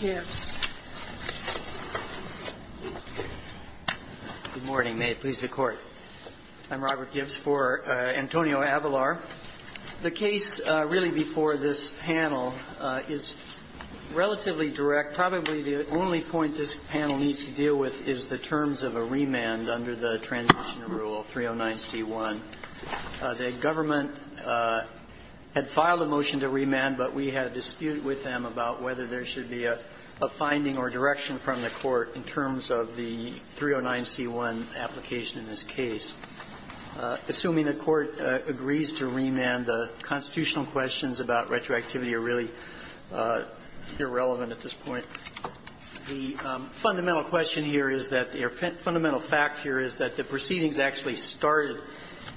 Good morning. May it please the Court. I'm Robert Gibbs for Antonio Avelar. The case really before this panel is relatively direct. Probably the only point this panel needs to deal with is the terms of a remand under the Transition Rule 309C1. The government had filed a motion to remand, but we had a dispute with them about whether there should be a finding or direction from the Court in terms of the 309C1 application in this case. Assuming the Court agrees to remand, the constitutional questions about retroactivity are really irrelevant at this point. The fundamental question here is that the or fundamental fact here is that the proceedings actually started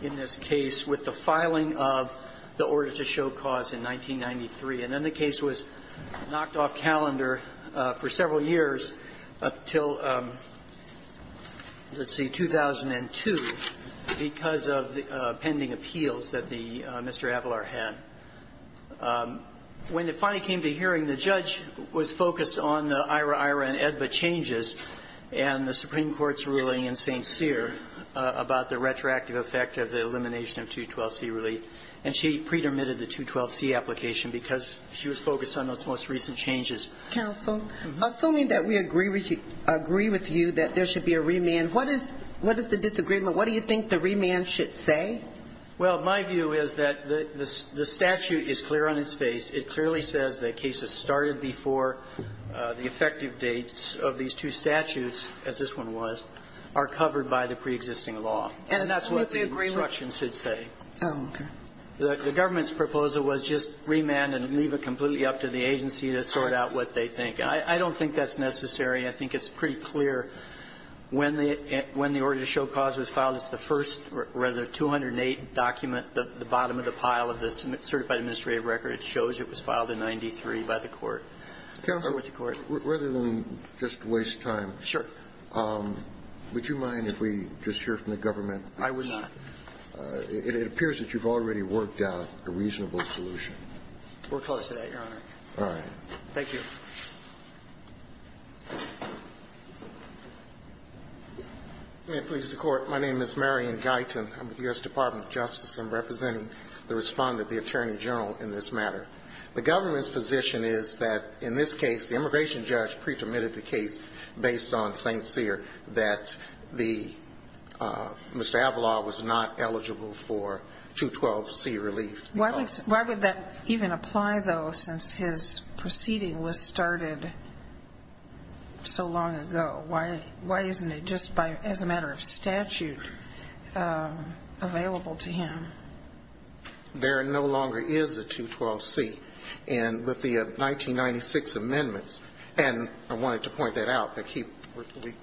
in this case with the filing of the order to show cause in 1993. And then the case was knocked off calendar for several years, up until, let's see, 2002, because of the pending appeals that the Mr. Avelar had. When it finally came to hearing, the judge was focused on the IHRA-IHRA and AEDBA changes and the Supreme Court's ruling in St. Cyr about the retroactive effect of the elimination of 212C relief. And she pre-dermitted the 212C application because she was focused on those most recent changes. Kagan. Assuming that we agree with you that there should be a remand, what is the disagreement? What do you think the remand should say? Well, my view is that the statute is clear on its face. It clearly says that cases started before the effective dates of these two statutes, as this one was, are covered by the preexisting law. And that's what the instruction should say. Oh, okay. The government's proposal was just remand and leave it completely up to the agency to sort out what they think. I don't think that's necessary. I think it's pretty clear when the order to show cause was filed, it's the first rather 208 document, the bottom of the pile of the certified administrative record shows it was filed in 93 by the court. Counsel, rather than just waste time, would you mind if we just hear from the government? I would not. It appears that you've already worked out a reasonable solution. We're close to that, Your Honor. All right. Thank you. May it please the Court. My name is Marion Guyton. I'm with the U.S. Department of Justice. I'm representing the respondent, the Attorney General, in this matter. The government's position is that in this case, the immigration judge pre-permitted the case based on St. Cyr that Mr. Avala was not eligible for 212C relief. Why would that even apply, though, since his proceeding was started so long ago? Why isn't it just as a matter of statute available to him? There no longer is a 212C. And with the 1996 amendments, and I wanted to point that out,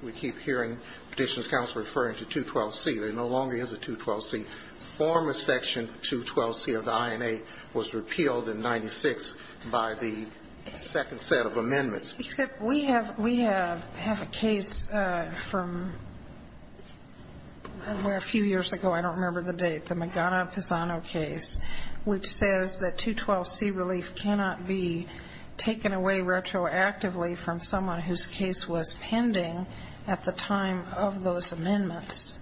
we keep hearing Petitions Counsel referring to 212C. There no longer is a 212C. The former section, 212C of the INA, was repealed in 96 by the second set of amendments. Except we have a case from a few years ago. I don't remember the date. The Magana-Pisano case, which says that 212C relief cannot be taken away retroactively from someone whose case was pending at the time of those amendments.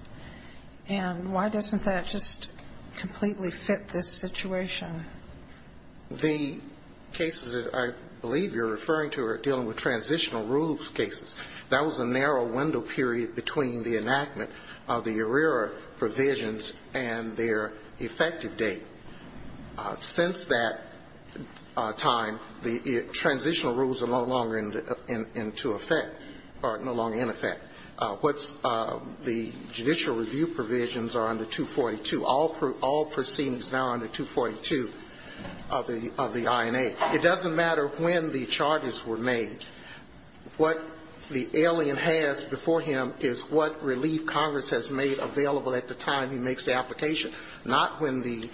And why doesn't that just completely fit this situation? The cases that I believe you're referring to are dealing with transitional rules cases. That was a narrow window period between the enactment of the ERIRA provisions and their effective date. Since that time, the transitional rules are no longer into effect, or no longer in effect. What's the judicial review provisions are under 242. All proceedings now are under 242 of the INA. It doesn't matter when the charges were made. What the alien has before him is what relief Congress has made available at the time he makes the application, not when the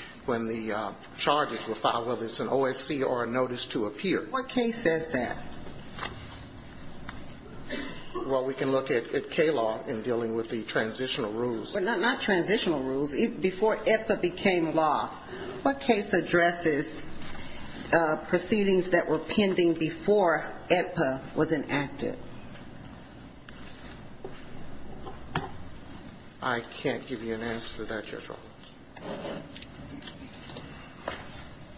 charges were filed, whether it's an OSC or a notice to appear. What case says that? Well, we can look at K-law in dealing with the transitional rules. Well, not transitional rules. Before AEDPA became law, what case addresses proceedings that were pending before AEDPA was enacted? I can't give you an answer to that, Your Honor.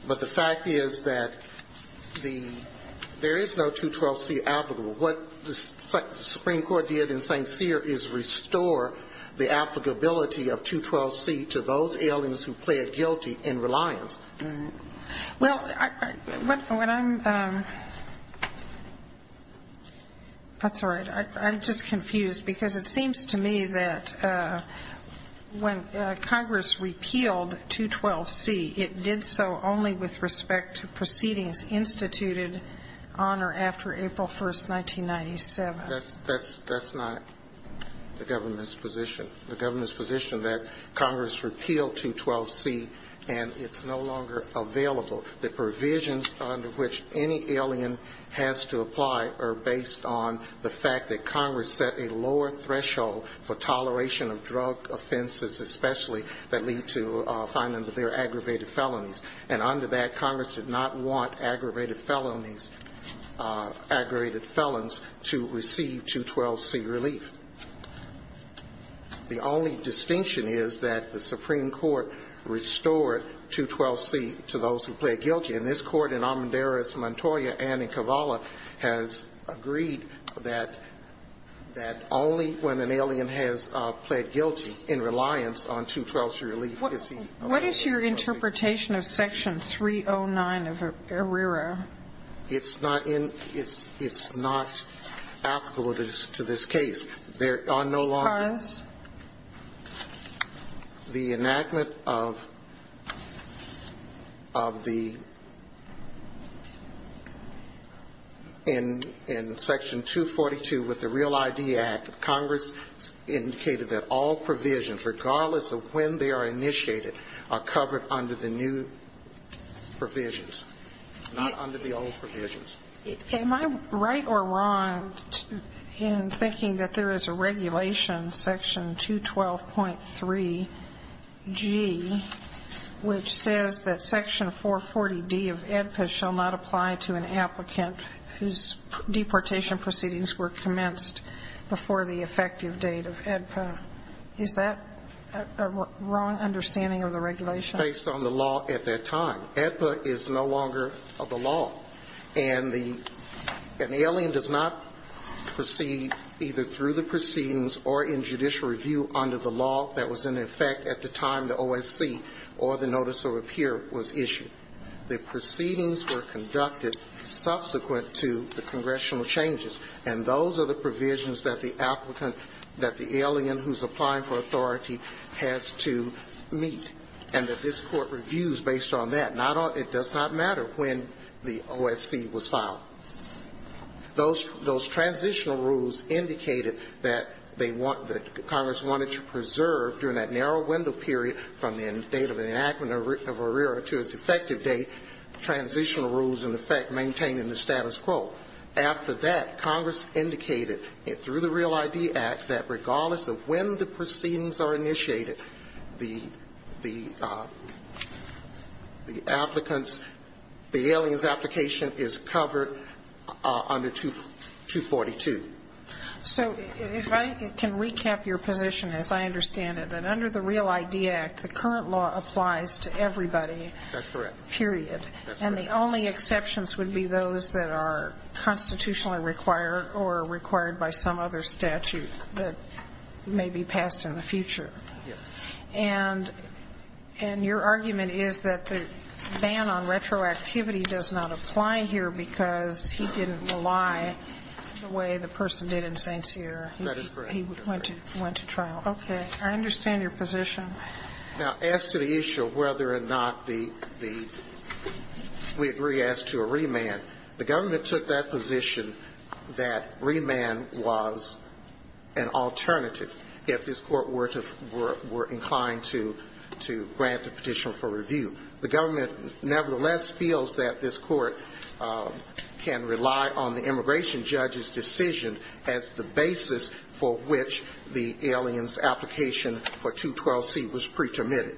But the fact is that the – there is no 212C applicable. What the Supreme Court did in St. Cyr is restore the applicability of 212C to those aliens who plead guilty in reliance. Well, when I'm – that's all right. I'm just confused, because it seems to me that when Congress repealed 212C, it did so only with respect to proceedings instituted on or after April 1st, 1997. That's not the government's position. The government's position that Congress repealed 212C and it's no longer available. The provisions under which any alien has to apply are based on the fact that Congress set a lower threshold for toleration of drug offenses especially that lead to finding that they're aggravated felonies. And under that, Congress did not want aggravated felonies – aggravated felons to receive 212C relief. The only distinction is that the Supreme Court restored 212C to those who plead guilty. And this Court in Almendarez-Montoya and in Kavala has agreed that only when an alien has pled guilty in reliance on 212C relief is he allowed to proceed. What is your interpretation of Section 309 of ARERA? It's not in – it's not applicable to this case. There are no longer – Because? The enactment of the – in Section 242 with the Real ID Act, Congress indicated that all provisions, regardless of when they are initiated, are covered under the new provisions, not under the old provisions. Am I right or wrong in thinking that there is a regulation, Section 212.3G, which says that Section 440D of AEDPA shall not apply to an applicant whose deportation proceedings were commenced before the effective date of AEDPA? Is that a wrong understanding of the regulation? It was based on the law at that time. AEDPA is no longer the law. And the – an alien does not proceed either through the proceedings or in judicial review under the law that was in effect at the time the OSC or the notice of repair was issued. The proceedings were conducted subsequent to the congressional changes. And those are the provisions that the applicant, that the alien who's applying for authority has to meet, and that this Court reviews based on that. Not on – it does not matter when the OSC was filed. Those – those transitional rules indicated that they want – that Congress wanted to preserve during that narrow window period from the date of the enactment of ERIRA to its effective date, transitional rules, in effect, maintaining the status quo. After that, Congress indicated through the REAL ID Act that regardless of when the proceedings are initiated, the – the applicants – the alien's application is covered under 242. So if I can recap your position, as I understand it, that under the REAL ID Act, the alien's application is covered under 242. That's correct. And the only exceptions would be those that are constitutionally required or required by some other statute that may be passed in the future. Yes. And – and your argument is that the ban on retroactivity does not apply here because he didn't rely the way the person did in St. Cyr. That is correct. He went to – went to trial. Okay. I understand your position. Now, as to the issue of whether or not the – the – we agree as to a remand, the government took that position that remand was an alternative if this Court were – were inclined to – to grant a petition for review. The government nevertheless feels that this Court can rely on the immigration judge's decision as the basis for which the alien's application for 212C was pre-termitted.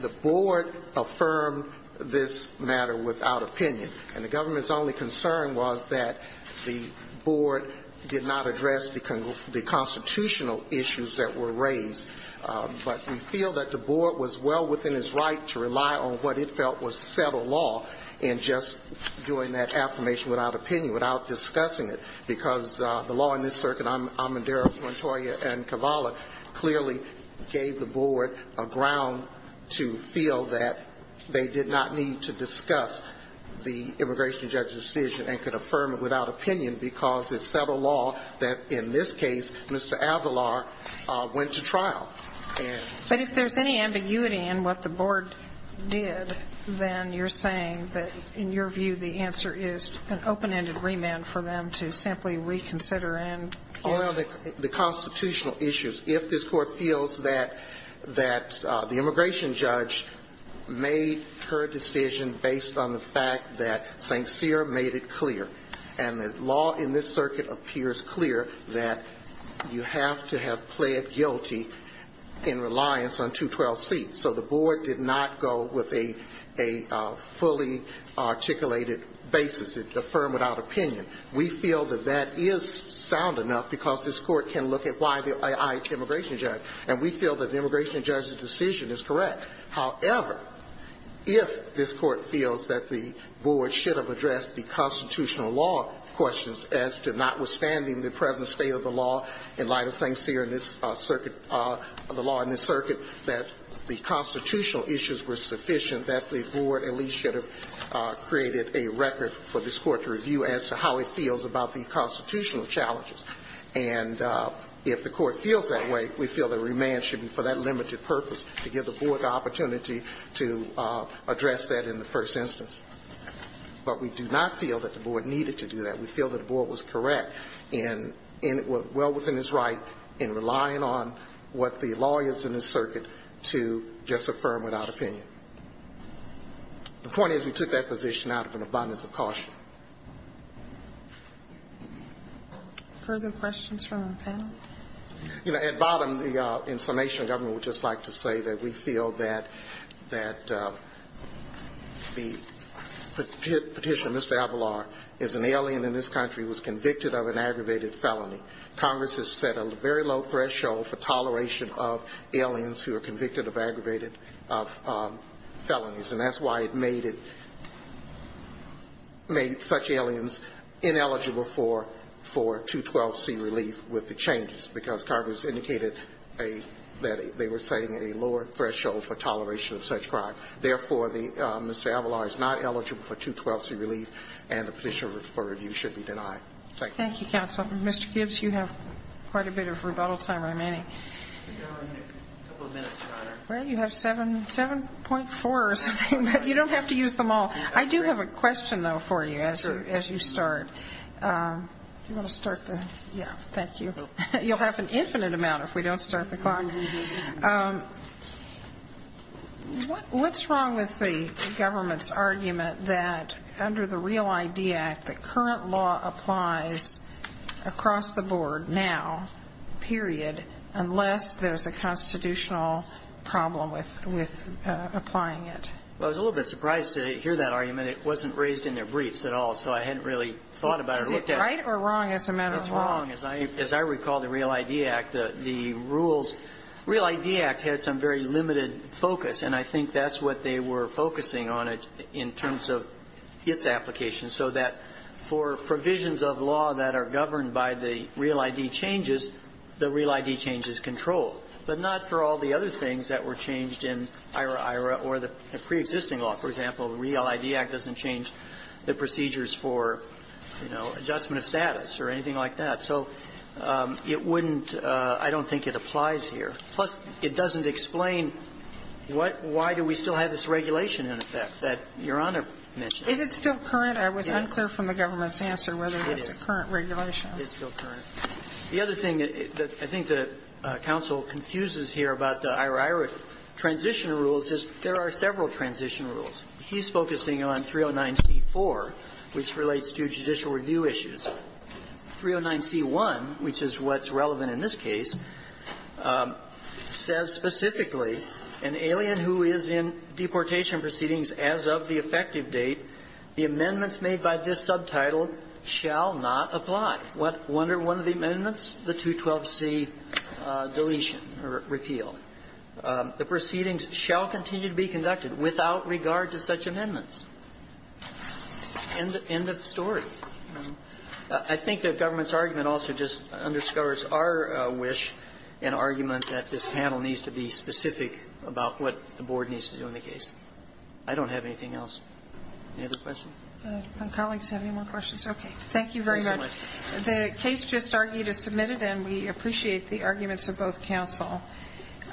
The Board affirmed this matter without opinion. And the government's only concern was that the Board did not address the – the constitutional issues that were raised. But we feel that the Board was well within its right to rely on what it felt was pre-termitted because the law in this circuit, Amadou, Montoya and Cavalli, clearly gave the Board a ground to feel that they did not need to discuss the immigration judge's decision and could affirm it without opinion because it's federal law that, in this case, Mr. Avalar went to trial. But if there's any ambiguity in what the Board did, then you're saying that, in your view, the answer is an open-ended remand for them to simply reconsider and – Well, the constitutional issues. If this Court feels that – that the immigration judge made her decision based on the fact that St. Cyr made it clear, and the law in this circuit appears clear, that you have to have pled guilty in reliance on 212C. So the Board did not go with a – a fully articulated basis. It affirmed without opinion. We feel that that is sound enough because this Court can look at why the IH immigration judge, and we feel that the immigration judge's decision is correct. However, if this Court feels that the Board should have addressed the constitutional law questions as to notwithstanding the present state of the law in light of St. Cyr, the law in this circuit, that the constitutional issues were sufficient, that the Board at least should have created a record for this Court to review as to how it feels about the constitutional challenges. And if the Court feels that way, we feel that remand should be for that limited purpose, to give the Board the opportunity to address that in the first instance. But we do not feel that the Board needed to do that. We feel that the Board was correct in – well within its right in relying on what the law is in this circuit to just affirm without opinion. The point is we took that position out of an abundance of caution. Further questions from the panel? You know, at bottom, the information government would just like to say that we feel that the petitioner, Mr. Avalar, is an alien in this country, was convicted of an aggravated felony. Congress has set a very low threshold for toleration of aliens who are convicted of aggravated felonies, and that's why it made it – made such aliens ineligible for 212C relief with the changes, because Congress indicated a – that they were setting a lower threshold for toleration of such crime. Therefore, the – Mr. Avalar is not eligible for 212C relief, and the petitioner for review should be denied. Thank you. Thank you, counsel. Mr. Gibbs, you have quite a bit of rebuttal time remaining. We've got only a couple of minutes, Your Honor. Well, you have 7.4 or something, but you don't have to use them all. I do have a question, though, for you as you start. Sure. Do you want to start there? Yeah. Thank you. You'll have an infinite amount if we don't start the clock. Mm-hmm. What's wrong with the government's argument that under the Real ID Act, the current law applies across the board now, period, unless there's a constitutional problem with applying it? Well, I was a little bit surprised to hear that argument. It wasn't raised in their briefs at all, so I hadn't really thought about it or looked at it. Is that right or wrong as a matter of law? It's wrong. As I recall, the Real ID Act, the rules, the Real ID Act had some very limited focus, and I think that's what they were focusing on it in terms of its application, so that for provisions of law that are governed by the Real ID changes, the Real ID change is controlled, but not for all the other things that were changed in IRA or IRA transition rules. So I don't think it applies here. Plus, it doesn't explain why do we still have this regulation in effect that Your Honor mentioned? Is it still current? I was unclear from the government's answer whether it's a current regulation. It is. It's still current. The other thing that I think the counsel confuses here about the IRA transition rules is there are several transition rules. He's focusing on 309C-4, which relates to judicial review issues. 309C-1, which is what's relevant in this case, says specifically, an alien who is in deportation proceedings as of the effective date, the amendments made by this subtitle shall not apply. What one or one of the amendments? The 212C deletion or repeal. The proceedings shall continue to be conducted without regard to such amendments. End of story. I think the government's argument also just underscores our wish and argument that this panel needs to be specific about what the board needs to do in the case. I don't have anything else. Any other questions? My colleagues have any more questions? Okay. Thank you very much. The case just argued is submitted, and we appreciate the arguments of both counsel. Thank you.